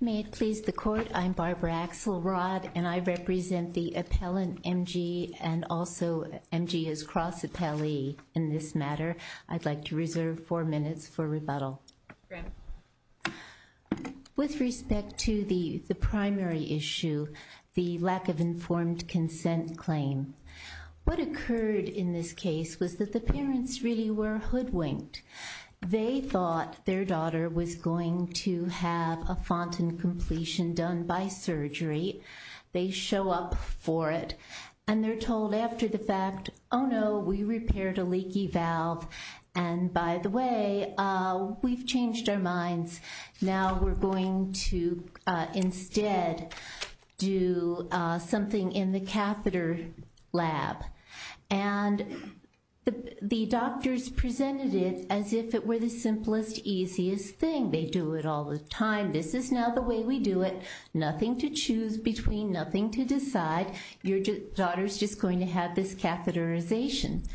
May it please the Court, I'm Barbara Axelrod and I represent the appellant M.G. and also M.G.'s cross appellee in this matter. I'd like to reserve four minutes for rebuttal. With respect to the primary issue, the lack of informed consent claim, what occurred in this case was that the parents really were hoodwinked. They thought their daughter was going to have a fontan completion done by surgery. They show up for it and they're told after the fact, oh no, we repaired a leaky valve and by the way, we've changed our minds. Now we're going to instead do something in the catheter lab. And the doctors presented it as if it were the simplest, easiest thing. They do it all the time. This is now the way we do it. Nothing to choose between, nothing to decide. Your daughter's just going to have this catheterization.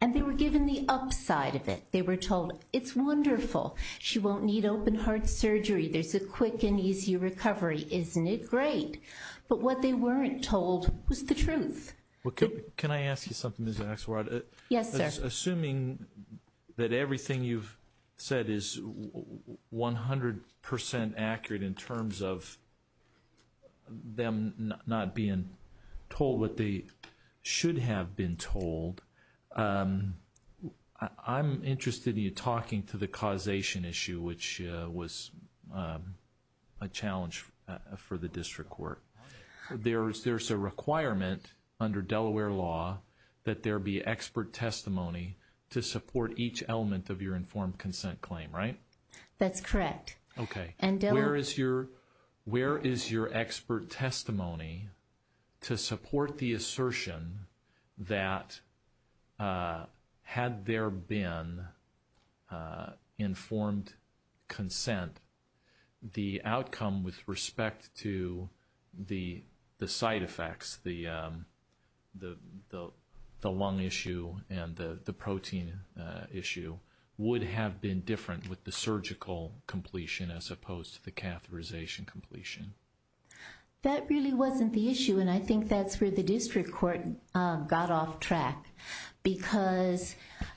And they were given the upside of it. They were told it's wonderful. She won't need open heart surgery. There's a quick and easy recovery. Isn't it great? But what they weren't told was the truth. Can I ask you something, Ms. Axelrod? Yes, sir. Assuming that everything you've said is 100% accurate in terms of them not being told what they should have been told, I'm interested in you talking to the causation issue, which was a challenge for the district court. There's a requirement under Delaware law that there be expert testimony to support each element of your informed consent claim, right? That's correct. Okay. Where is your expert testimony to support the assertion that had there been informed consent, the outcome with respect to the side effects, the lung injury, the heart failure, the lung issue, and the protein issue, would have been different with the surgical completion as opposed to the catheterization completion? That really wasn't the issue. And I think that's where the district court got off track. Because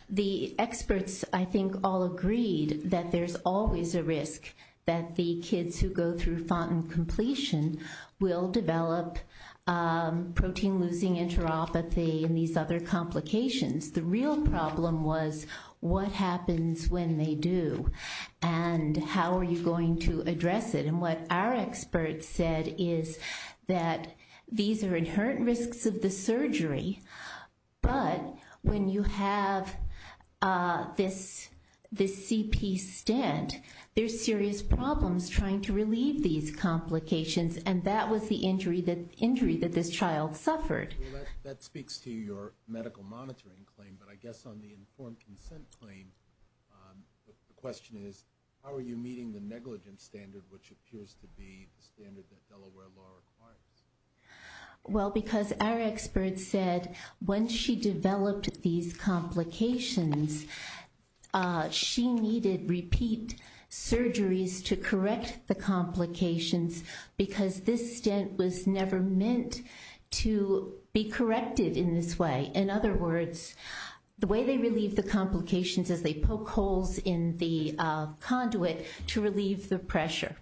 the experts, I think, all agreed that there's always a risk that the kids who go through fontan completion will develop protein-losing enteropathy and these other complications. The real problem was what happens when they do, and how are you going to address it. And what our experts said is that these are inherent risks of the surgery, but when you have this CP stent, there's serious problems trying to relieve these complications. And that was the injury that this child suffered. That speaks to your medical monitoring claim, but I guess on the informed consent claim, the question is, how are you meeting the negligence standard, which appears to be the standard that Delaware law requires? Well because our expert said, when she developed these complications, she needed repeat surgeries to correct the complications, because this stent was never meant to be corrected in this way. In other words, the way they relieve the complications is they poke holes in the conduit to relieve the pressure.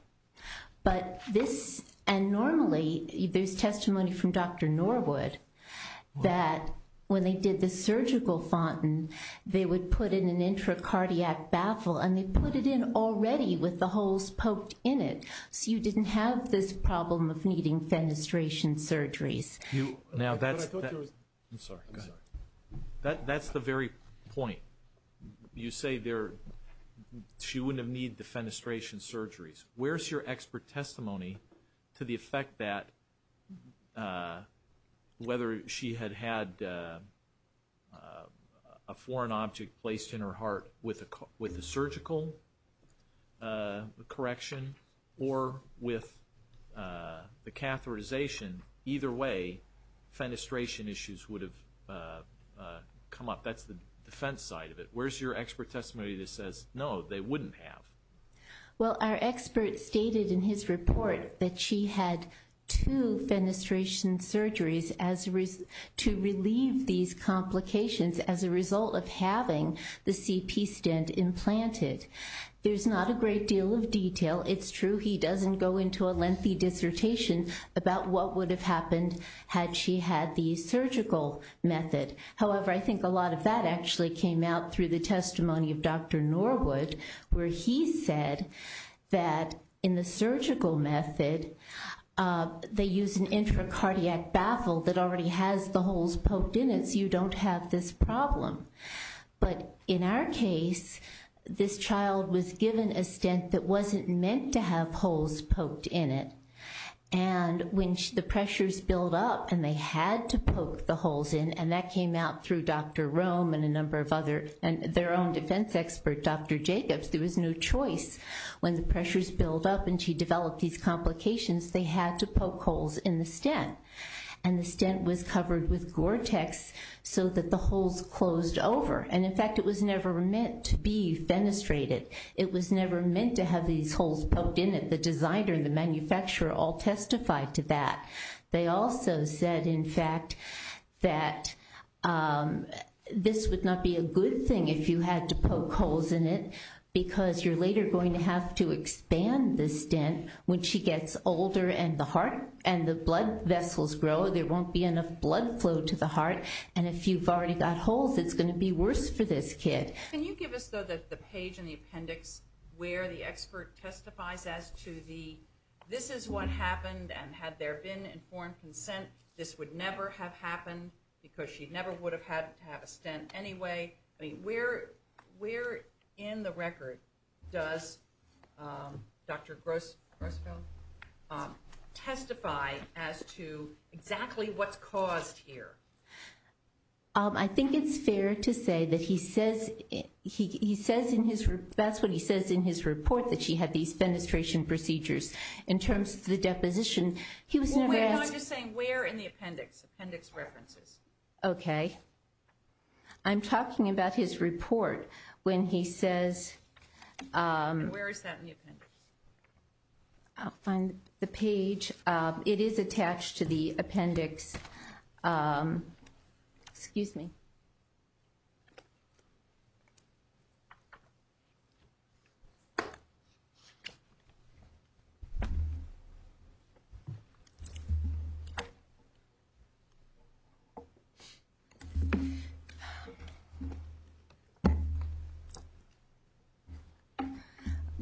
But this, and normally, there's testimony from Dr. Norwood that when they did the surgical fontan, they would put in an intracardiac baffle, and they had holes poked in it, so you didn't have this problem of needing fenestration surgeries. That's the very point. You say she wouldn't have needed the fenestration surgeries. Where's your expert testimony to the effect that whether she had had a foreign object placed in her correction or with the catheterization, either way, fenestration issues would have come up? That's the defense side of it. Where's your expert testimony that says, no, they wouldn't have? Well our expert stated in his report that she had two fenestration surgeries to relieve these complications as a result of having the CP stent implanted. There's not a great deal of detail. It's true he doesn't go into a lengthy dissertation about what would have happened had she had the surgical method. However, I think a lot of that actually came out through the testimony of Dr. Norwood, where he said that in the surgical method, they use an intracardiac baffle that already has the holes poked in it, so you don't have this problem. But in our case, this child was given a stent that wasn't meant to have holes poked in it. And when the pressures build up and they had to poke the holes in, and that came out through Dr. Rome and a number of other, and their own defense expert, Dr. Jacobs, there was no choice. When the pressures build up and she developed these complications, they had to poke holes in the stent. And the stent was covered with Gore-Tex so that the holes closed over. And in fact, it was never meant to be fenestrated. It was never meant to have these holes poked in it. The designer, the manufacturer all testified to that. They also said, in fact, that this would not be a good thing if you had to poke holes in it because you're later going to have to expand the stent when she gets older and the heart and the blood vessels grow. There won't be enough blood flow to the heart. And if you've already got holes, it's going to be worse for this kid. Can you give us, though, the page in the appendix where the expert testifies as to the, this is what happened, and had there been informed consent, this would never have happened because she never would have had to have a stent anyway. Where in the record does Dr. Grossfeld testify as to exactly what's caused here? I think it's fair to say that he says, that's what he says in his report, that she had these fenestration procedures. In terms of the deposition, he was never asked. I'm just saying where in the appendix, appendix references. Okay. I'm talking about his report when he says... Where is that in the appendix? I'll find the page. It is attached to the appendix. Excuse me.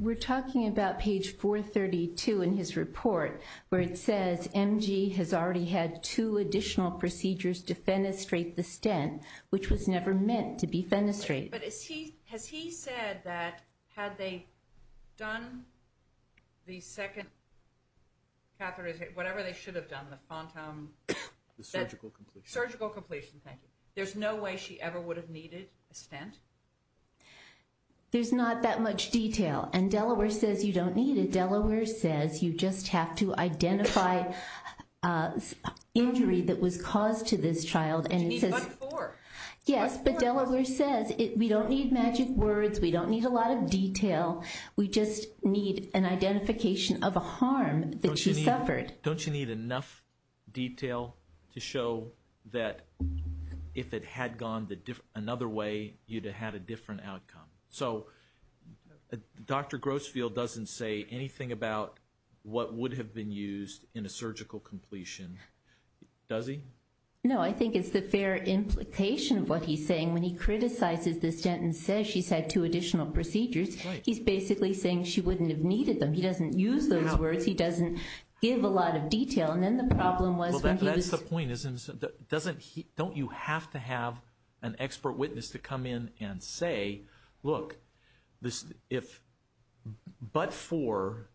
We're talking about page 432 in his report where it says, M.G. has already had two additional procedures to fenestrate the stent, which was never meant to be fenestrated. But has he said that had they done the second catheterization, whatever they should have done, the phantom... The surgical completion. Surgical completion. Thank you. There's no way she ever would have needed a stent? There's not that much detail. And Delaware says you don't need it. Delaware says you just have to identify injury that was caused to this child and... She needs but four. Yes, but Delaware says we don't need magic words. We don't need a lot of detail. We just need an identification of a harm that she suffered. Don't you need enough detail to show that if it had gone another way, you'd have had a different outcome? So Dr. Grossfield doesn't say anything about what would have been used in a surgical completion, does he? No, I think it's the fair implication of what he's saying. When he criticizes the stent and says she's had two additional procedures, he's basically saying she wouldn't have needed them. He doesn't use those words. He doesn't give a lot of detail. And then the problem was when he was... That's the point. Don't you have to have an expert witness to come in and say, look, if but four,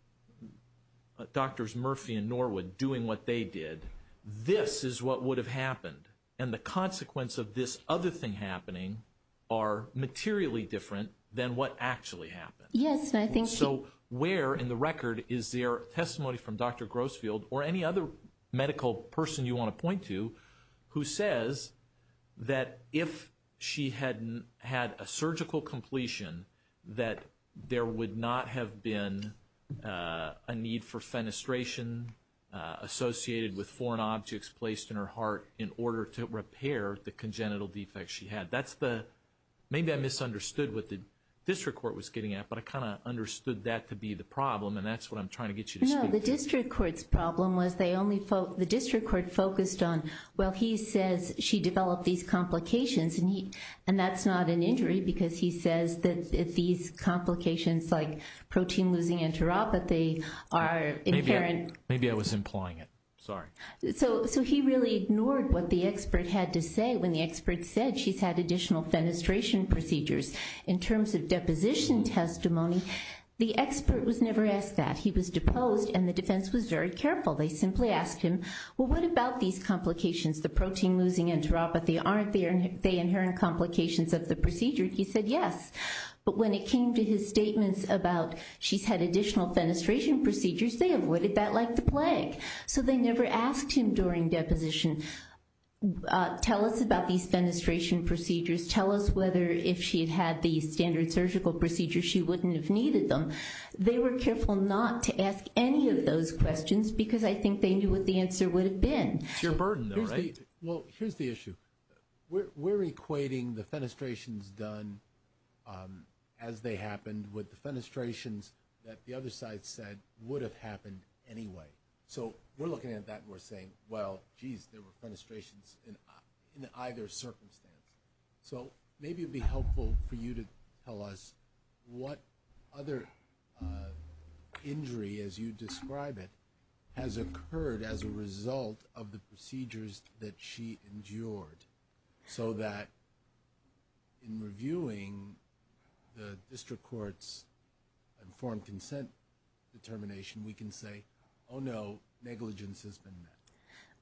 Drs. Murphy and Norwood doing what they did, this is what would have happened. And the consequence of this other thing happening are materially different than what actually happened. Yes, and I think... Also, where in the record is there testimony from Dr. Grossfield or any other medical person you want to point to who says that if she hadn't had a surgical completion, that there would not have been a need for fenestration associated with foreign objects placed in her heart in order to repair the congenital defects she had. That's the... Maybe I misunderstood what the district court was getting at, but I kind of understood that to be the problem, and that's what I'm trying to get you to speak to. No, the district court's problem was they only... The district court focused on, well, he says she developed these complications, and that's not an injury because he says that if these complications like protein losing enteropathy are inherent... Maybe I was implying it. Sorry. So he really ignored what the expert had to say when the expert said she's had additional fenestration procedures. In terms of deposition testimony, the expert was never asked that. He was deposed, and the defense was very careful. They simply asked him, well, what about these complications, the protein losing enteropathy? Aren't they inherent complications of the procedure? He said yes, but when it came to his statements about she's had additional fenestration procedures, they avoided that like the plague. So they never asked him during deposition, tell us about these fenestration procedures. Tell us whether if she had had these standard surgical procedures, she wouldn't have needed them. They were careful not to ask any of those questions because I think they knew what the answer would have been. It's your burden though, right? Well, here's the issue. We're equating the fenestrations done as they happened with the fenestrations that the other side said would have happened anyway. So we're looking at that and we're saying, well, geez, there were fenestrations in either circumstance. So maybe it would be helpful for you to tell us what other injury, as you describe it, has occurred as a result of the procedures that she endured so that in reviewing the fenestration procedures, it would be helpful for you to tell us what happened then.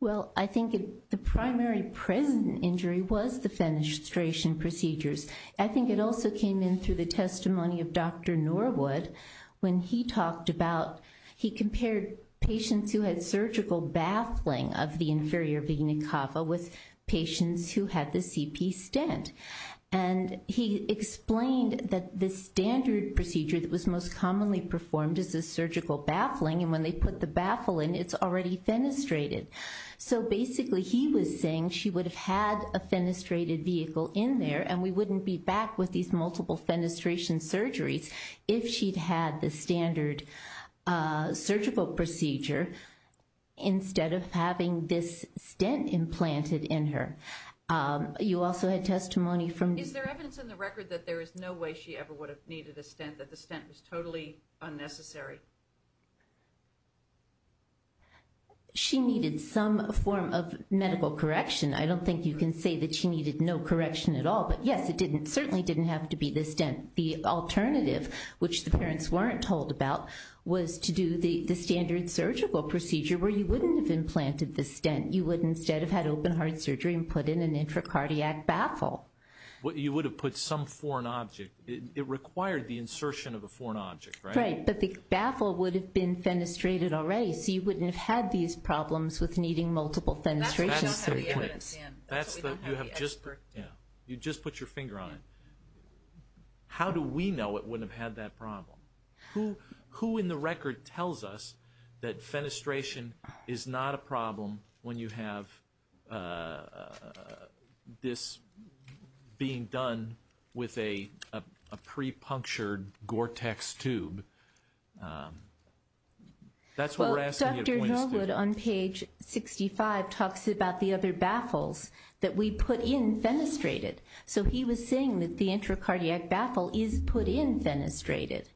Well, I think the primary present injury was the fenestration procedures. I think it also came in through the testimony of Dr. Norwood when he talked about, he compared patients who had surgical baffling of the inferior vena cava with patients who had the CP stent. And he explained that the standard procedure that was most commonly performed is the surgical baffling and when they put the baffling, it's already fenestrated. So basically he was saying she would have had a fenestrated vehicle in there and we wouldn't be back with these multiple fenestration surgeries if she'd had the standard surgical procedure instead of having this stent implanted in her. You also had testimony from... Is there evidence in the record that there is no way she ever would have needed a stent, that the stent was totally unnecessary? She needed some form of medical correction. I don't think you can say that she needed no correction at all, but yes, it certainly didn't have to be the stent. The alternative, which the parents weren't told about, was to do the standard surgical procedure where you wouldn't have implanted the stent. You would instead have had open heart surgery and put in an intracardiac baffle. You would have put some foreign object. It required the insertion of a foreign object, right? Right, but the baffle would have been fenestrated already, so you wouldn't have had these problems with needing multiple fenestration surgeries. That's what we don't have the evidence for. You just put your finger on it. How do we know it wouldn't have had that problem? Who in the record tells us that fenestration is not a problem when you have this problem? Being done with a pre-punctured Gore-Tex tube, that's what we're asking you to point us to. Well, Dr. Hillwood on page 65 talks about the other baffles that we put in fenestrated, so he was saying that the intracardiac baffle is put in fenestrated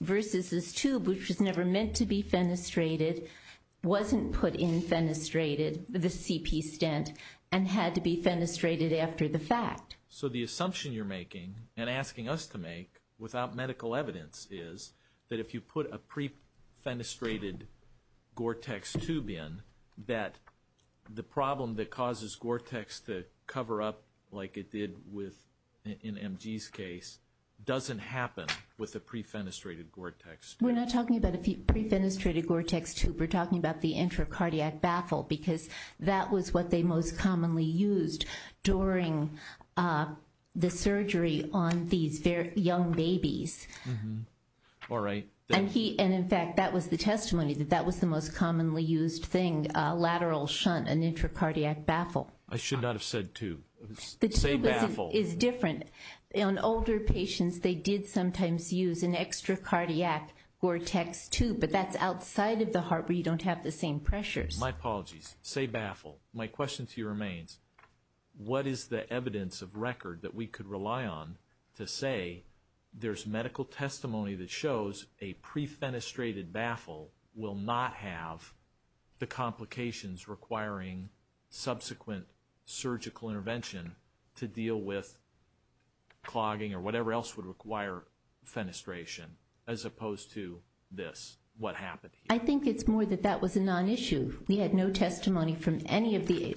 versus this tube, which was never meant to be fenestrated, wasn't put in fenestrated, the CP stent, and had to be fenestrated after the fact. So the assumption you're making and asking us to make without medical evidence is that if you put a pre-fenestrated Gore-Tex tube in, that the problem that causes Gore-Tex to cover up like it did in MG's case doesn't happen with a pre-fenestrated Gore-Tex tube. We're not talking about a pre-fenestrated Gore-Tex tube. We're talking about the intracardiac baffle, because that was what they most commonly used during the surgery on these young babies. And in fact, that was the testimony, that that was the most commonly used thing, a lateral shunt, an intracardiac baffle. I should not have said tube, same baffle. The tube is different. On older patients, they did sometimes use an extracardiac Gore-Tex tube, but that's outside of the heart where you don't have the same pressures. My apologies. Say baffle. My question to you remains, what is the evidence of record that we could rely on to say there's medical testimony that shows a pre-fenestrated baffle will not have the complications requiring subsequent surgical intervention to deal with clogging or whatever else would require fenestration, as opposed to this, what happened here? I think it's more that that was a non-issue. We had no testimony from any of the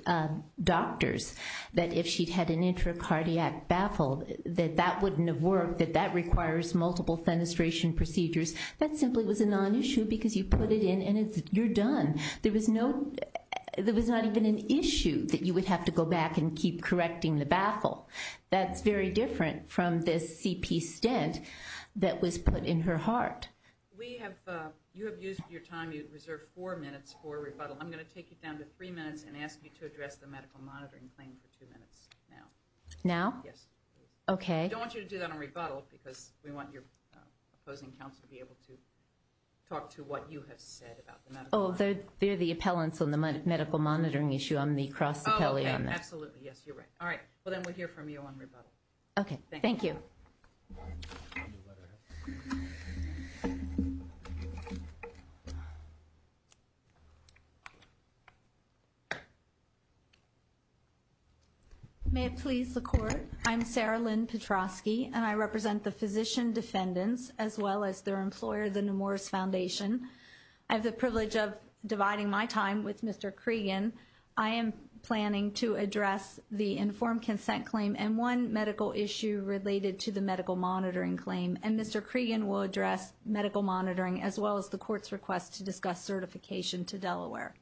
doctors that if she'd had an intracardiac baffle, that that wouldn't have worked, that that requires multiple fenestration procedures. That simply was a non-issue, because you put it in and you're done. There was no, there was not even an issue that you would have to go back and keep correcting the baffle. That's very different from this CP stent that was put in her heart. We have, you have used your time, you have reserved four minutes for rebuttal. I'm going to take you down to three minutes and ask you to address the medical monitoring claim for two minutes now. Now? Yes. Okay. I don't want you to do that on rebuttal, because we want your opposing counsel to be able to talk to what you have said about the medical monitoring. Oh, they're the appellants on the medical monitoring issue. I'm the cross appellee on that. Oh, okay. Absolutely. Yes, you're right. All right. Well, then we'll hear from you on rebuttal. Okay. Thank you. Thank you. Thank you. May it please the Court, I'm Sarah Lynn Petrosky and I represent the physician defendants as well as their employer, the Nemours Foundation. I have the privilege of dividing my time with Mr. Cregan. I am planning to address the informed consent claim and one medical issue related to the medical monitoring as well as the Court's request to discuss certification to Delaware.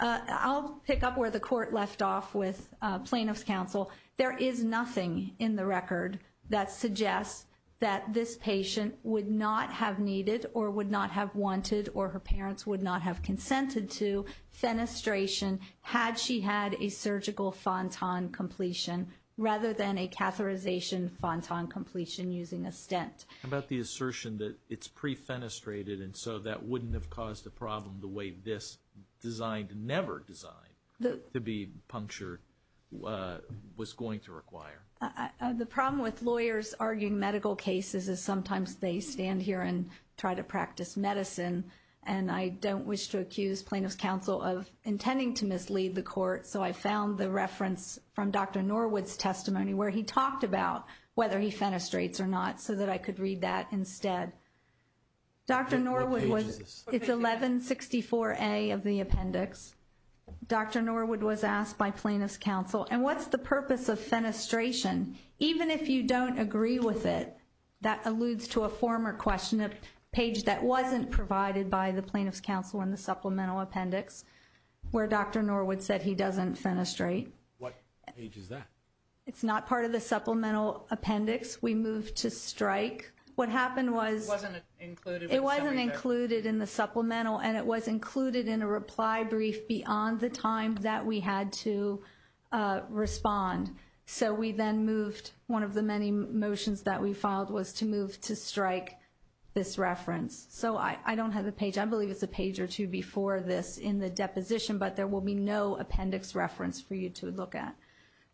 I'll pick up where the Court left off with plaintiff's counsel. There is nothing in the record that suggests that this patient would not have needed or would not have wanted or her parents would not have consented to fenestration had she had a surgical fontan completion rather than a catheterization fontan completion using a stent. How about the assertion that it's pre-fenestrated and so that wouldn't have caused a problem the way this designed, never designed to be punctured was going to require? The problem with lawyers arguing medical cases is sometimes they stand here and try to practice medicine and I don't wish to accuse plaintiff's counsel of intending to mislead the Court. So I found the reference from Dr. Norwood's testimony where he talked about whether he would read that instead. Dr. Norwood was, it's 1164A of the appendix. Dr. Norwood was asked by plaintiff's counsel, and what's the purpose of fenestration even if you don't agree with it? That alludes to a former question, a page that wasn't provided by the plaintiff's counsel in the supplemental appendix where Dr. Norwood said he doesn't fenestrate. What page is that? It's not part of the supplemental appendix. We moved to strike. What happened was it wasn't included in the supplemental and it was included in a reply brief beyond the time that we had to respond. So we then moved one of the many motions that we filed was to move to strike this reference. So I don't have the page. I believe it's a page or two before this in the deposition, but there will be no appendix reference for you to look at.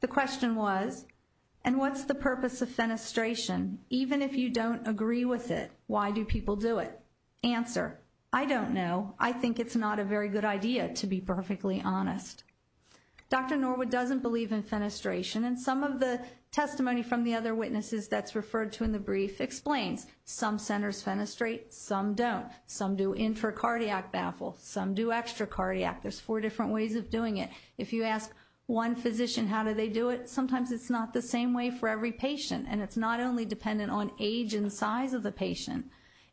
The question was, and what's the purpose of fenestration even if you don't agree with it? Why do people do it? Answer, I don't know. I think it's not a very good idea to be perfectly honest. Dr. Norwood doesn't believe in fenestration and some of the testimony from the other witnesses that's referred to in the brief explains some centers fenestrate, some don't. Some do intracardiac baffle, some do extracardiac. There's four different ways of doing it. If you ask one physician how do they do it, sometimes it's not the same way for every patient and it's not only dependent on age and size of the patient.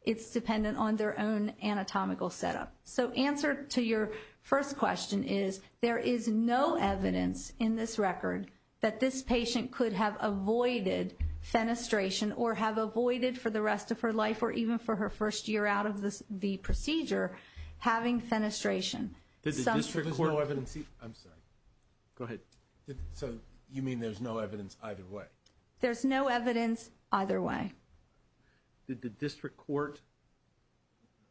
It's dependent on their own anatomical setup. So answer to your first question is there is no evidence in this record that this patient could have avoided fenestration or have avoided for the rest of her life or even for her first year out of the procedure having fenestration. I'm sorry. Go ahead. So you mean there's no evidence either way? There's no evidence either way. Did the district court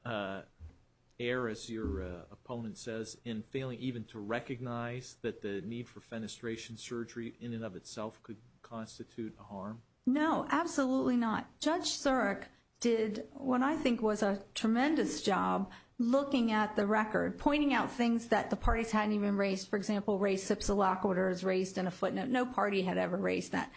err as your opponent says in failing even to recognize that the need for fenestration surgery in and of itself could constitute a harm? No, absolutely not. Judge Surik did what I think was a tremendous job looking at the record, pointing out things that the parties hadn't even raised. For example, raised SIPSA lock orders, raised in a footnote. No party had ever raised that.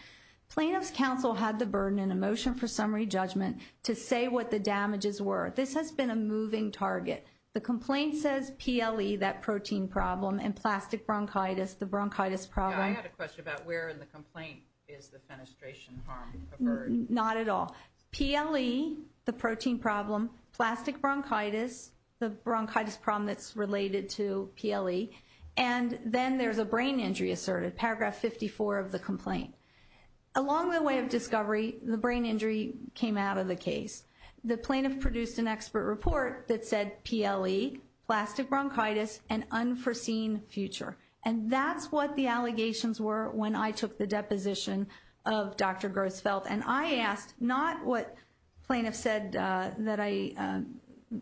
Plaintiff's counsel had the burden in a motion for summary judgment to say what the damages were. This has been a moving target. The complaint says PLE, that protein problem, and plastic bronchitis, the bronchitis problem. I had a question about where in the complaint is the fenestration harm referred? Not at all. PLE, the protein problem, plastic bronchitis, the bronchitis problem that's related to PLE, and then there's a brain injury asserted, paragraph 54 of the complaint. Along the way of discovery, the brain injury came out of the case. The plaintiff produced an expert report that said PLE, plastic bronchitis, and unforeseen future. And that's what the allegations were when I took the deposition of Dr. Grossfeld. And I asked, not what plaintiff said, that I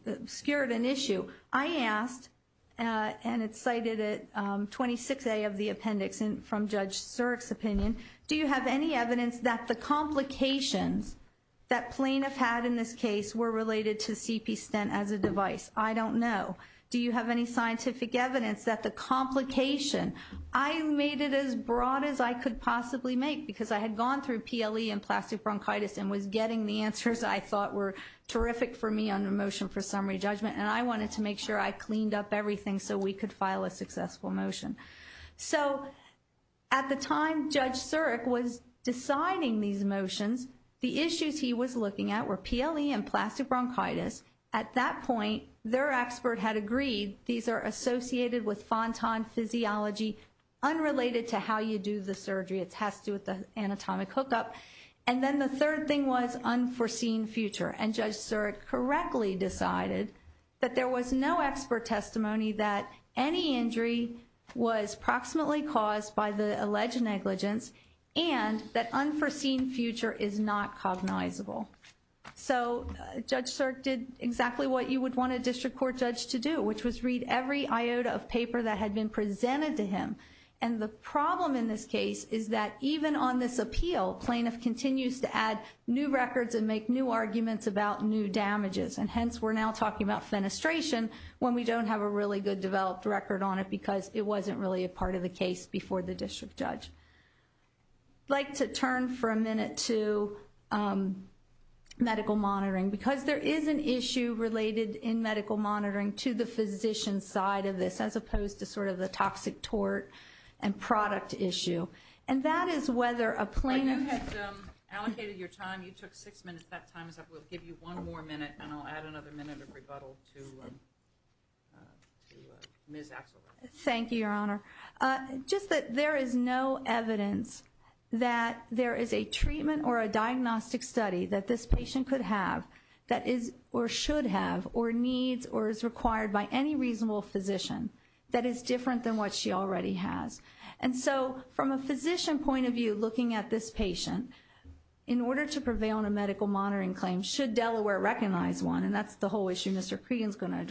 obscured an issue. I asked, and it's cited at 26A of the appendix from Judge Surik's opinion, do you have any evidence that the complications that plaintiff had in this case were related to CP stent as a device? I don't know. Do you have any scientific evidence that the complication, I made it as broad as I could possibly make because I had gone through PLE and plastic bronchitis and was getting the answers I thought were terrific for me on the motion for summary judgment, and I wanted to make sure I cleaned up everything so we could file a successful motion. So at the time Judge Surik was deciding these motions, the issues he was looking at were PLE and plastic bronchitis. At that point, their expert had agreed these are associated with Fontan physiology unrelated to how you do the surgery. It has to do with the anatomic hookup. And then the third thing was unforeseen future. And Judge Surik correctly decided that there was no expert testimony that any injury was proximately caused by the alleged negligence and that unforeseen future is not cognizable. So Judge Surik did exactly what you would want a district court judge to do, which was read every iota of paper that had been presented to him. And the problem in this case is that even on this appeal, plaintiff continues to add new records and make new arguments about new damages. And hence, we're now talking about fenestration when we don't have a really good developed record on it because it wasn't really a part of the case before the district judge. I'd like to turn for a minute to medical monitoring because there is an issue related in medical monitoring to the physician's side of this as opposed to sort of the toxic tort and product issue. And that is whether a plaintiff had allocated your time. You took six minutes. That time is up. We'll give you one more minute and I'll add another minute of There is no evidence that there is a treatment or a diagnostic study that this patient could have that is or should have or needs or is required by any reasonable physician that is different than what she already has. And so from a physician point of view, looking at this patient, in order to prevail on a medical monitoring claim, should Delaware recognize one, and that's the whole issue Mr. Cregan's going to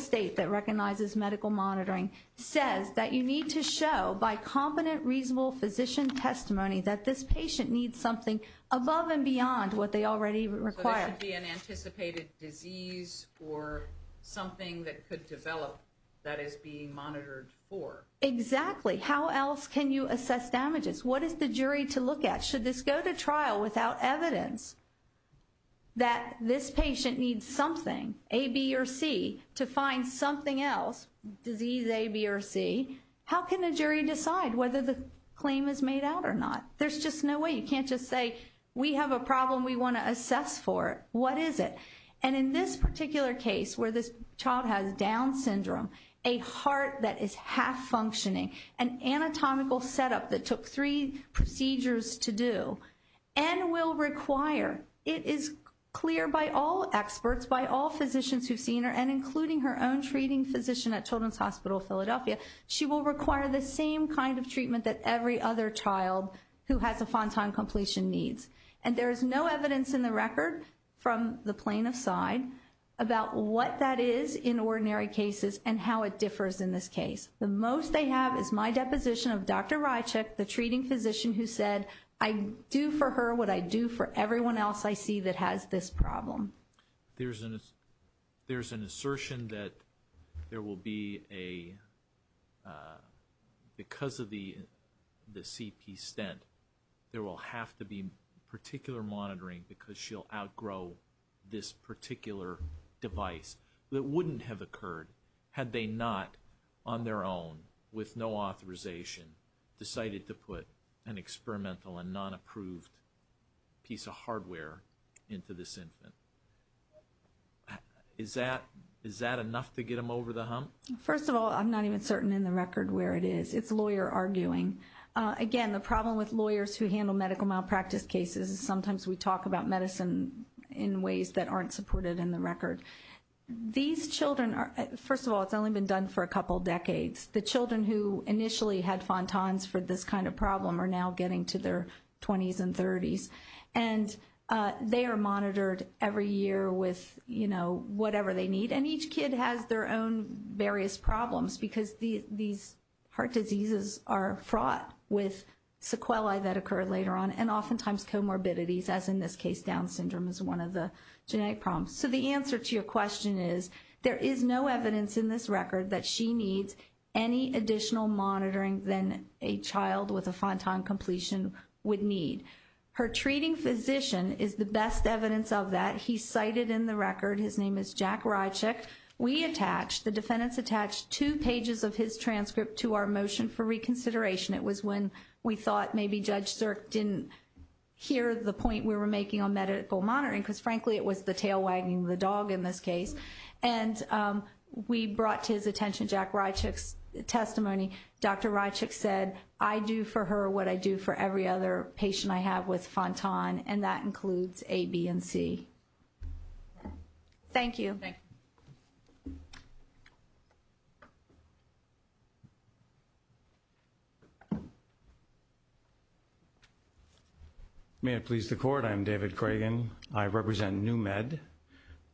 state that recognizes medical monitoring, says that you need to show by competent, reasonable physician testimony that this patient needs something above and beyond what they already require. It should be an anticipated disease or something that could develop that is being monitored for. Exactly. How else can you assess damages? What is the jury to look at? Should this go to trial without evidence that this patient needs something, A, B, or C, to find something else, disease A, B, or C? How can the jury decide whether the claim is made out or not? There's just no way. You can't just say we have a problem we want to assess for. What is it? And in this particular case where this child has Down syndrome, a heart that is half-functioning, an anatomical setup that took three procedures to do, and will require, it is clear by all experts, by all physicians who've seen her, and including her own treating physician at Children's Hospital of Philadelphia, she will require the same kind of treatment that every other child who has a Fontan completion needs. And there is no evidence in the record from the plaintiff's side about what that is in ordinary cases and how it differs in this case. The most they have is my deposition of Dr. Rychik, the treating physician who said, I do for her what I do for everyone else I see that has this problem. There's an assertion that there will be a, because of the CP stent, there will have to be particular monitoring because she'll outgrow this particular device that wouldn't have occurred had they not, on their own, with no authorization, decided to put an experimental and non-approved piece of hardware into this infant. Is that enough to get them over the hump? First of all, I'm not even certain in the record where it is. It's lawyer arguing. Again, the problem with lawyers who handle medical malpractice cases is sometimes we talk about medicine in ways that aren't supported in the record. These children, first of all, it's only been done for a couple decades. The children who initially had Fontans for this kind of problem are now getting to their 20s and 30s. And they are monitored every year with, you know, whatever they need. And each kid has their own various problems because these heart diseases are fraught with sequelae that occur later on and oftentimes comorbidities, as in this case, Down syndrome is one of the genetic problems. So the answer to your question is, there is no evidence in this record that she needs any additional monitoring than a child with a Fontan completion would need. Her treating physician is the best evidence of that. He's cited in the record. His name is Jack Rychick. We attached, the defendants attached, two pages of his transcript to our motion for reconsideration. It was when we thought maybe Judge Zerk didn't hear the point we were making on medical monitoring because, frankly, it was the tail wagging the dog in this case. And we brought to his attention Jack Rychick's testimony. Dr. Rychick said, I do for her what I do for every other patient I have with Fontan, and that includes A, B, and C. Thank you. Thank you. May it please the court. I'm David Cragen. I represent New Med,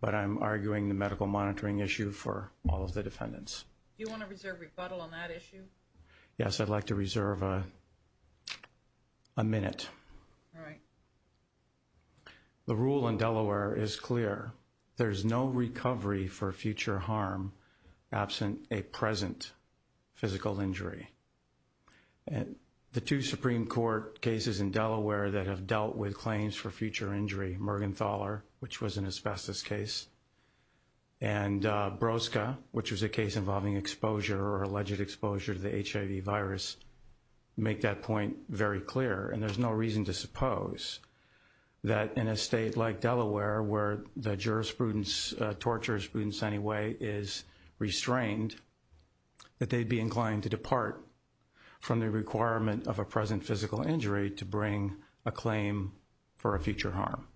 but I'm arguing the medical monitoring issue for all of the defendants. Do you want to reserve rebuttal on that issue? Yes, I'd like to reserve a minute. All right. The rule in Delaware is clear. There's no recovery for future harm absent a present physical injury. And the two Supreme Court cases in Delaware that have dealt with claims for future injury, Mergenthaler, which was an asbestos case, and Broska, which was a case involving exposure or alleged exposure to the HIV virus, make that point very clear. And there's no reason to suppose that in a state like Delaware, where the jurisprudence, tort jurisprudence anyway, is restrained, that they'd be inclined to depart from the requirement of a present physical injury to bring a claim for a future harm.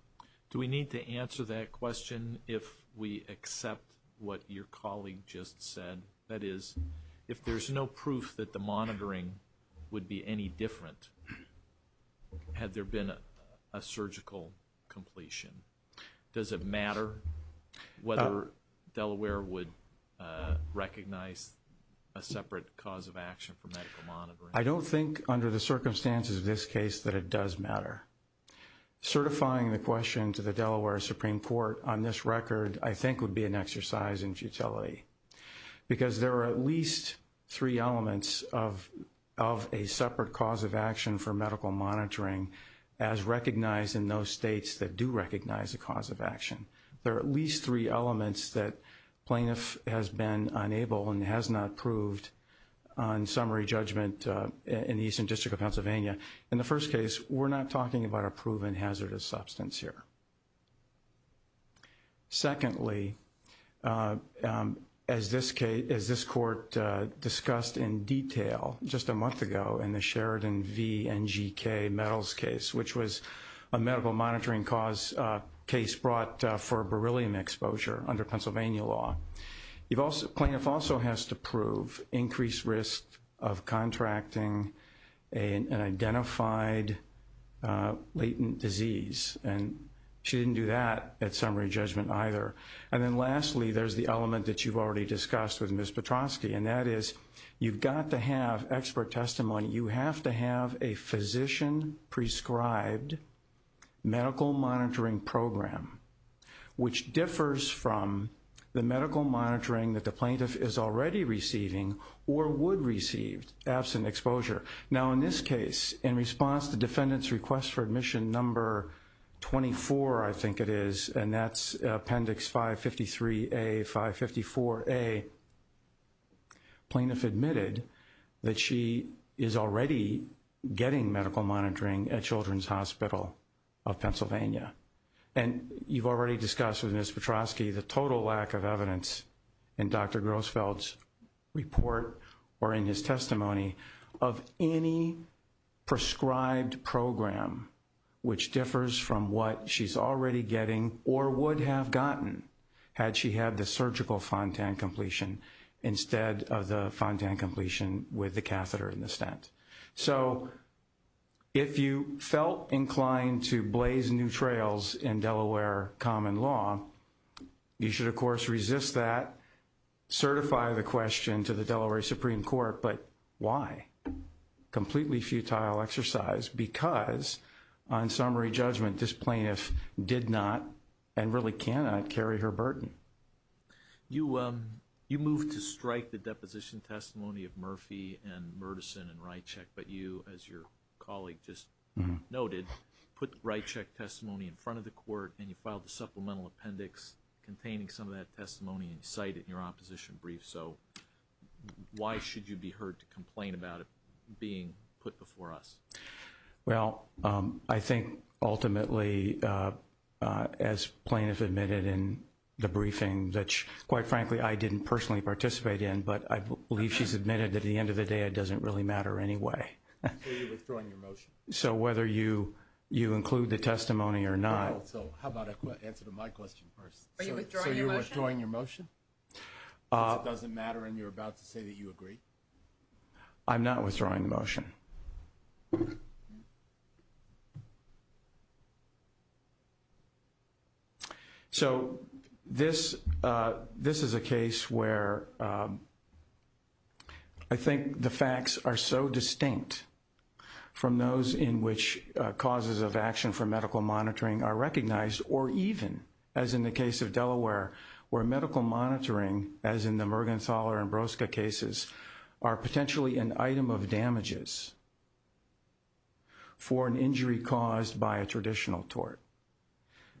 Do we need to answer that question if we accept what your colleague just said? That is, if there's no proof that the monitoring would be any different had there been a surgical completion, does it matter whether Delaware would recognize a separate cause of action for medical monitoring? I don't think under the circumstances of this case that it does matter. Certifying the question to the Delaware Supreme Court on this record, I think, would be an exercise in futility. Because there are at least three elements of a separate cause of action for medical monitoring as recognized in those states that do recognize a cause of action. There are at least three elements that plaintiff has been unable and has not proved on summary judgment in the Eastern District of Pennsylvania. In the first case, we're not talking about a proven hazardous substance here. Secondly, as this court discussed in detail just a month ago in the Sheridan v. NGK Metals case, which was a medical monitoring cause case brought for beryllium exposure under Pennsylvania law, plaintiff also has to prove increased risk of contracting an identified latent disease. And she didn't do that at summary judgment either. And then lastly, there's the element that you've already discussed with Ms. Petrosky, and that is you've got to have expert testimony. You have to have a physician-prescribed medical monitoring program, which differs from the medical monitoring that the plaintiff is already receiving or would receive absent exposure. Now, in this case, in response to defendant's request for admission number 24, I think it is, and that's Appendix 553A, 554A, plaintiff admitted that she is already getting medical monitoring at Children's Hospital of Pennsylvania. And you've already discussed with Ms. Petrosky the total lack of evidence in Dr. Grossfeld's report or in his testimony of any prescribed program which differs from what she's already getting or would have gotten had she had the surgical Fontan completion instead of the Fontan completion with the catheter in the stent. So if you felt inclined to blaze new trails in Delaware common law, you should, of course, resist that, certify the question to the Delaware Supreme Court, but why? Completely futile exercise because, on summary judgment, this plaintiff did not and really cannot carry her burden. You moved to strike the deposition testimony of Murphy and Murdison and Rychek, but you, as your colleague just noted, put Rychek testimony in front of the court, and you filed a supplemental appendix containing some of that testimony in sight in your opposition brief. So why should you be heard to complain about it being put before us? Well, I think ultimately, as plaintiff admitted in the briefing, which, quite frankly, I didn't personally participate in, but I believe she's admitted at the end of the day it doesn't really matter anyway. So you're withdrawing your motion? So whether you include the testimony or not. So how about I answer to my question first? So you're withdrawing your motion? Because it doesn't matter and you're about to say that you agree? So this is a case where I think the facts are so distinct from those in which causes of action for medical monitoring are recognized, or even, as in the case of Delaware, where medical monitoring, as in the Mergenthaler and Broska cases, are potentially an item of damages for an injury caused by a traditional tort.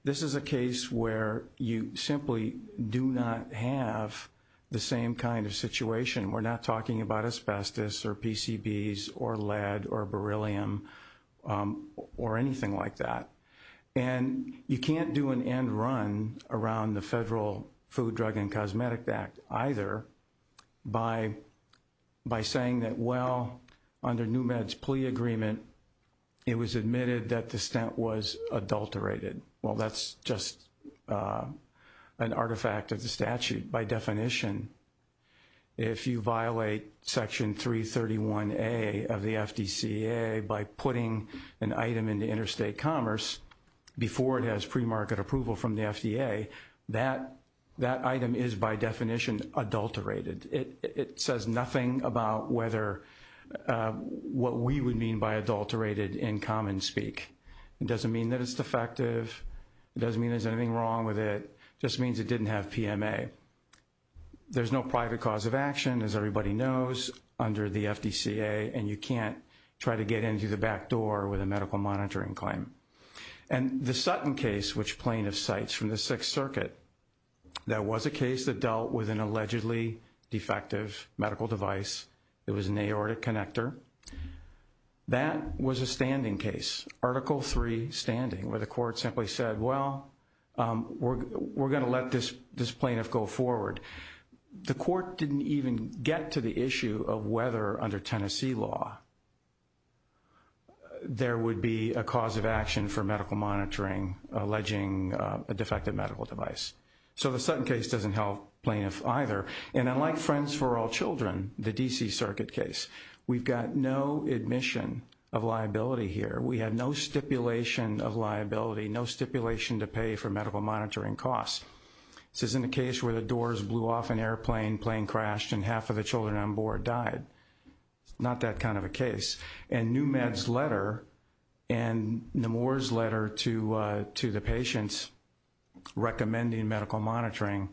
This is a case where you simply do not have the same kind of situation. We're not talking about asbestos or PCBs or lead or beryllium or anything like that. And you can't do an end run around the Federal Food, Drug, and Cosmetic Act either by saying that, well, under NEWMED's plea agreement, it was admitted that the stent was adulterated. Well, that's just an artifact of the statute. By definition, if you violate Section 331A of the FDCA by putting an item into interstate commerce before it has premarket approval from the FDA, that item is by definition adulterated. It says nothing about what we would mean by adulterated in common speak. It doesn't mean that it's defective. It doesn't mean there's anything wrong with it. It just means it didn't have PMA. There's no private cause of action, as everybody knows, under the FDCA, and you can't try to get into the back door with a medical monitoring claim. And the Sutton case, which plaintiff cites from the Sixth Circuit, that was a case that dealt with an allegedly defective medical device. It was an aortic connector. That was a standing case, Article III standing, where the court simply said, well, we're going to let this plaintiff go forward. The court didn't even get to the issue of whether, under Tennessee law, there would be a cause of action for medical monitoring alleging a defective medical device. So the Sutton case doesn't help plaintiffs either. And unlike Friends for All Children, the D.C. Circuit case, we've got no admission of liability here. We have no stipulation of liability, no stipulation to pay for medical monitoring costs. This isn't a case where the doors blew off an airplane, plane crashed, and half of the children on board died. It's not that kind of a case. And New Med's letter and Nemours' letter to the patients recommending medical monitoring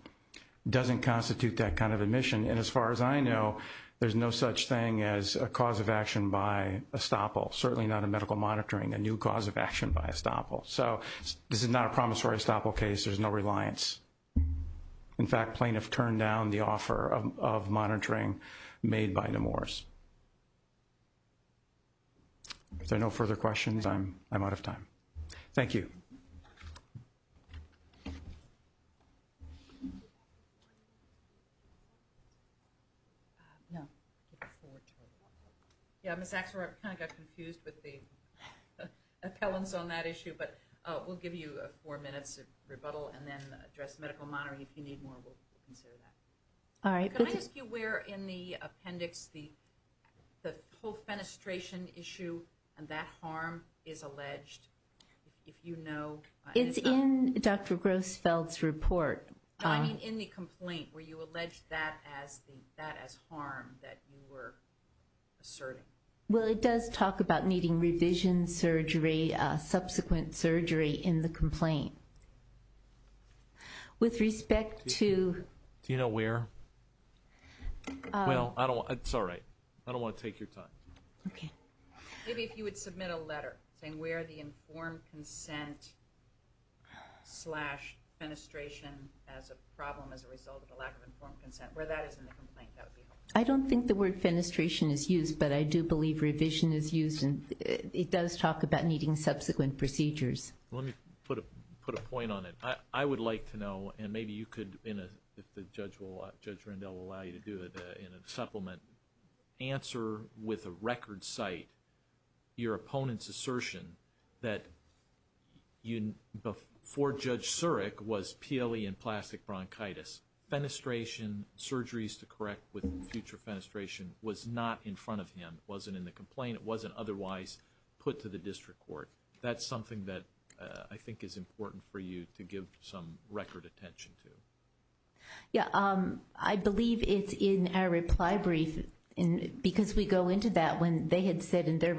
doesn't constitute that kind of admission. And as far as I know, there's no such thing as a cause of action by estoppel, certainly not a medical monitoring, a new cause of action by estoppel. So this is not a promissory estoppel case. There's no reliance. In fact, plaintiffs turned down the offer of monitoring made by Nemours. If there are no further questions, I'm out of time. Thank you. Yeah, Ms. Axelrod, I kind of got confused with the appellants on that issue, but we'll give you four minutes of rebuttal and then address medical monitoring. If you need more, we'll consider that. Can I ask you where in the appendix the whole fenestration issue and that harm is alleged, if you know? It's in Dr. Grossfeld's report. No, I mean in the complaint where you allege that as harm that you were asserting. Well, it does talk about needing revision surgery, subsequent surgery in the complaint. With respect to... Do you know where? Well, it's all right. I don't want to take your time. Maybe if you would submit a letter saying where the informed consent slash fenestration as a problem as a result of the lack of informed consent, where that is in the complaint, that would be helpful. I don't think the word fenestration is used, but I do believe revision is used. It does talk about needing subsequent procedures. Let me put a point on it. I would like to know, and maybe you could, if Judge Rendell will allow you to do it, in a supplement, answer with a record cite your opponent's assertion that before Judge Surik was PLE and plastic bronchitis. Fenestration, surgeries to correct with future fenestration, was not in front of him. It wasn't in the complaint. It wasn't otherwise put to the district court. That's something that I think is important for you to give some record attention to. Yeah, I believe it's in our reply brief. Because we go into that when they had said in their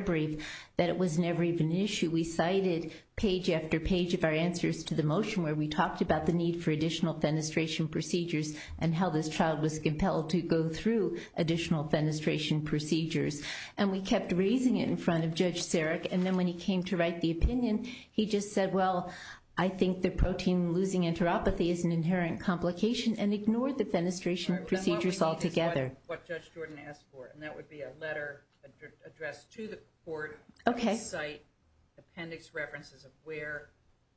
brief that it was never even an issue. We cited page after page of our answers to the motion where we talked about the need for additional fenestration procedures and how this child was compelled to go through additional fenestration procedures. And we kept raising it in front of Judge Surik. And then when he came to write the opinion, he just said, well, I think the protein losing enteropathy is an inherent complication and ignored the fenestration procedures altogether. What Judge Jordan asked for, and that would be a letter addressed to the court. Okay. Cite appendix references of where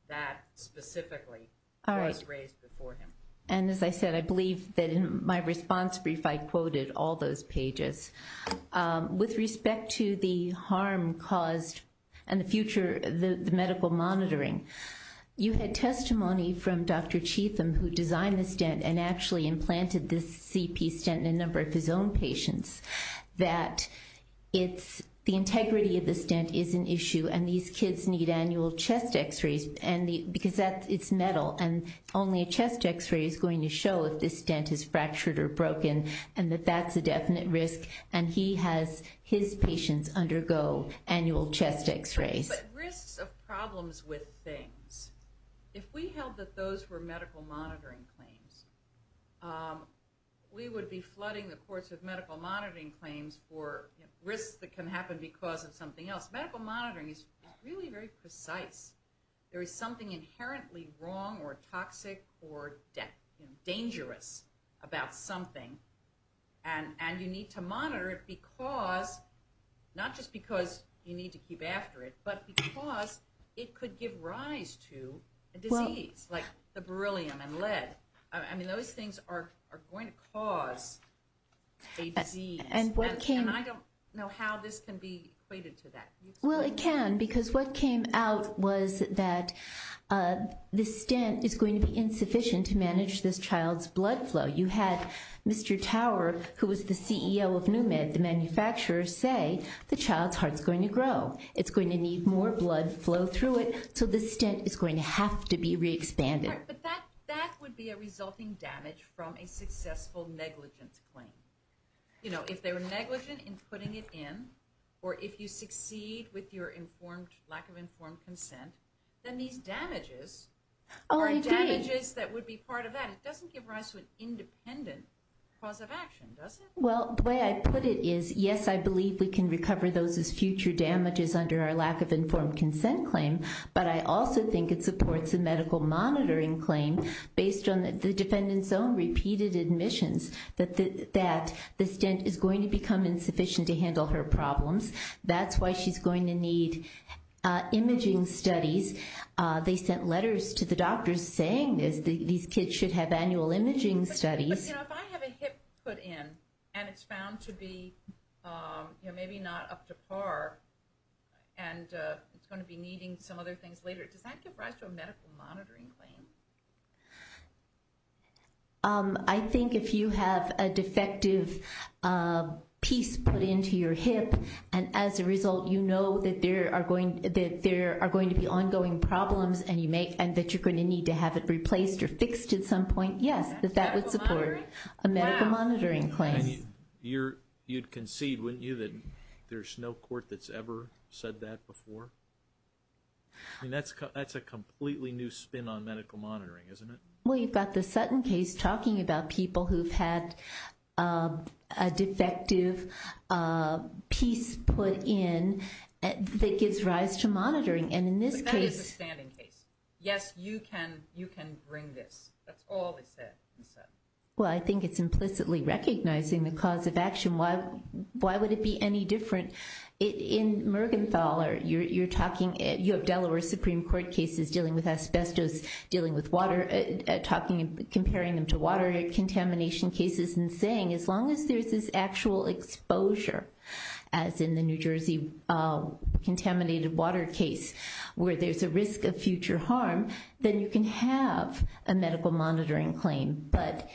that specifically was raised before him. And as I said, I believe that in my response brief I quoted all those pages. With respect to the harm caused and the future, the medical monitoring. You had testimony from Dr. Cheetham who designed this dent and actually implanted this CP stent in a number of his own patients. That it's the integrity of the stent is an issue and these kids need annual chest x-rays. Because it's metal and only a chest x-ray is going to show if this stent is fractured or broken. And that that's a definite risk. And he has his patients undergo annual chest x-rays. But risks of problems with things. If we held that those were medical monitoring claims, we would be flooding the courts with medical monitoring claims for risks that can happen because of something else. Medical monitoring is really very precise. There is something inherently wrong or toxic or dangerous about something. And you need to monitor it because, not just because you need to keep after it, but because it could give rise to a disease like the beryllium and lead. I mean those things are going to cause a disease. And I don't know how this can be equated to that. Well it can because what came out was that the stent is going to be insufficient to manage this child's blood flow. You had Mr. Tower who was the CEO of Numid, the manufacturer, say the child's heart is going to grow. It's going to need more blood flow through it so the stent is going to have to be re-expanded. But that would be a resulting damage from a successful negligence claim. You know, if they were negligent in putting it in, or if you succeed with your lack of informed consent, then these damages are damages that would be part of that. It doesn't give rise to an independent cause of action, does it? Well, the way I put it is yes, I believe we can recover those as future damages under our lack of informed consent claim, but I also think it supports a medical monitoring claim based on the defendant's own repeated admissions that the stent is going to become insufficient to handle her problems. That's why she's going to need imaging studies. They sent letters to the doctors saying these kids should have annual imaging studies. But you know, if I have a hip put in and it's found to be maybe not up to par, and it's going to be needing some other things later, does that give rise to a medical monitoring claim? I think if you have a defective piece put into your hip, and as a result you know that there are going to be ongoing problems and that you're going to need to have it replaced or fixed at some point, yes, that that would support a medical monitoring claim. You'd concede, wouldn't you, that there's no court that's ever said that before? I mean, that's a completely new spin on medical monitoring, isn't it? Well, you've got the Sutton case talking about people who've had a defective piece put in that gives rise to monitoring. But that is a standing case. Yes, you can bring this. That's all they said. Well, I think it's implicitly recognizing the cause of action. Why would it be any different? In Mergenthaler, you have Delaware Supreme Court cases dealing with asbestos, dealing with water, comparing them to water contamination cases, and saying as long as there's this actual exposure, as in the New Jersey contaminated water case where there's a risk of future harm, then you can have a medical monitoring claim. But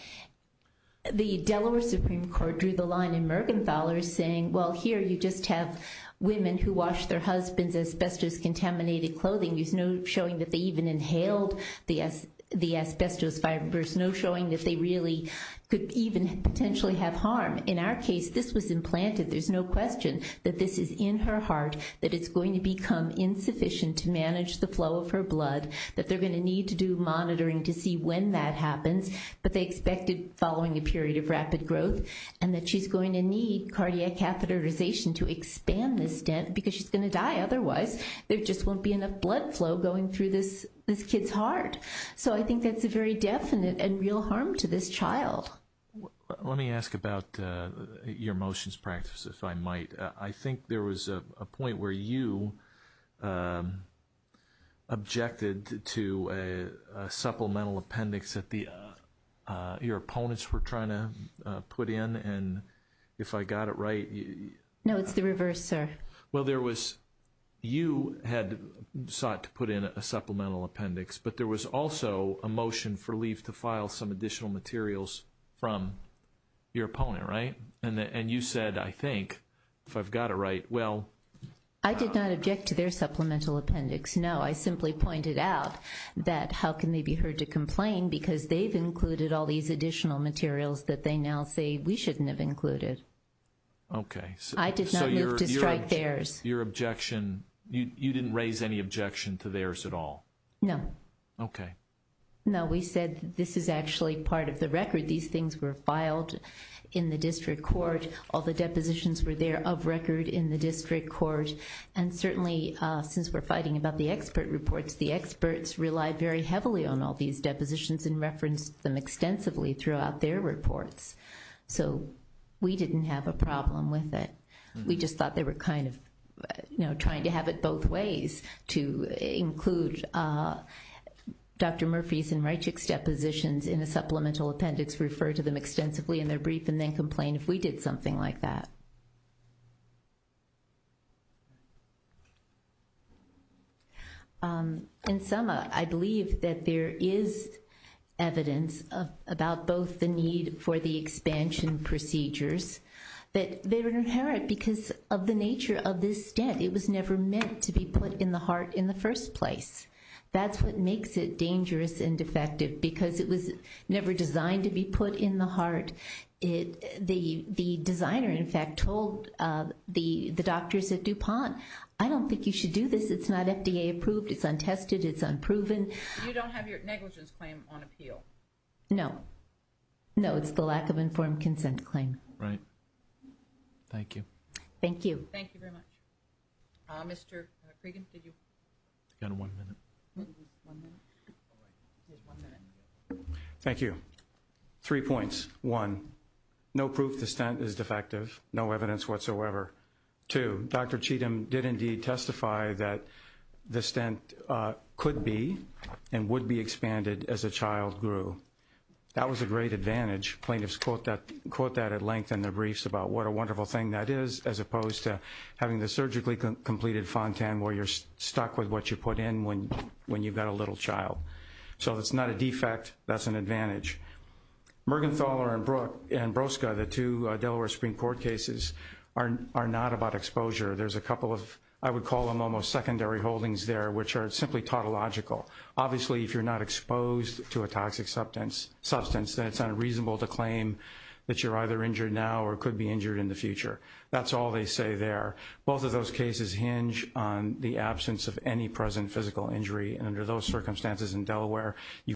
the Delaware Supreme Court drew the line in Mergenthaler saying, well, here you just have women who wash their husbands' asbestos-contaminated clothing. There's no showing that they even inhaled the asbestos fibers, no showing that they really could even potentially have harm. In our case, this was implanted. There's no question that this is in her heart, that it's going to become insufficient to manage the flow of her blood, that they're going to need to do monitoring to see when that happens, but they expect it following a period of rapid growth, and that she's going to need cardiac catheterization to expand this dent because she's going to die otherwise. There just won't be enough blood flow going through this kid's heart. So I think that's a very definite and real harm to this child. Let me ask about your motions practice, if I might. I think there was a point where you objected to a supplemental appendix that your opponents were trying to put in, and if I got it right. No, it's the reverse, sir. Well, you had sought to put in a supplemental appendix, but there was also a motion for leave to file some additional materials from your opponent, right? And you said, I think, if I've got it right, well. I did not object to their supplemental appendix, no. So I simply pointed out that how can they be heard to complain because they've included all these additional materials that they now say we shouldn't have included. Okay. I did not move to strike theirs. Your objection, you didn't raise any objection to theirs at all? No. Okay. No, we said this is actually part of the record. These things were filed in the district court. All the depositions were there of record in the district court, and certainly since we're fighting about the expert reports, the experts relied very heavily on all these depositions and referenced them extensively throughout their reports. So we didn't have a problem with it. We just thought they were kind of, you know, trying to have it both ways to include Dr. Murphy's and Reichick's depositions in a supplemental appendix, refer to them extensively in their brief, and then complain if we did something like that. In sum, I believe that there is evidence about both the need for the expansion procedures that they were inherent because of the nature of this dent. It was never meant to be put in the heart in the first place. That's what makes it dangerous and defective because it was never designed to be put in the heart. The designer, in fact, told the doctors at DuPont, I don't think you should do this. It's not FDA approved. It's untested. It's unproven. You don't have your negligence claim on appeal? No. No, it's the lack of informed consent claim. Right. Thank you. Thank you. Thank you very much. Mr. Cregan, did you? I've got one minute. Just one minute? All right. Just one minute. Thank you. Three points. One, no proof the stent is defective. No evidence whatsoever. Two, Dr. Cheatham did indeed testify that the stent could be and would be expanded as a child grew. That was a great advantage. Plaintiffs quote that at length in their briefs about what a wonderful thing that is as opposed to having the surgically completed Fontan where you're stuck with what you put in when you've got a little child. So it's not a defect. That's an advantage. Mergenthaler and Broska, the two Delaware Supreme Court cases, are not about exposure. There's a couple of, I would call them almost secondary holdings there, which are simply tautological. Obviously, if you're not exposed to a toxic substance, then it's unreasonable to claim that you're either injured now or could be injured in the future. That's all they say there. Both of those cases hinge on the absence of any present physical injury. And under those circumstances in Delaware, you could be injured.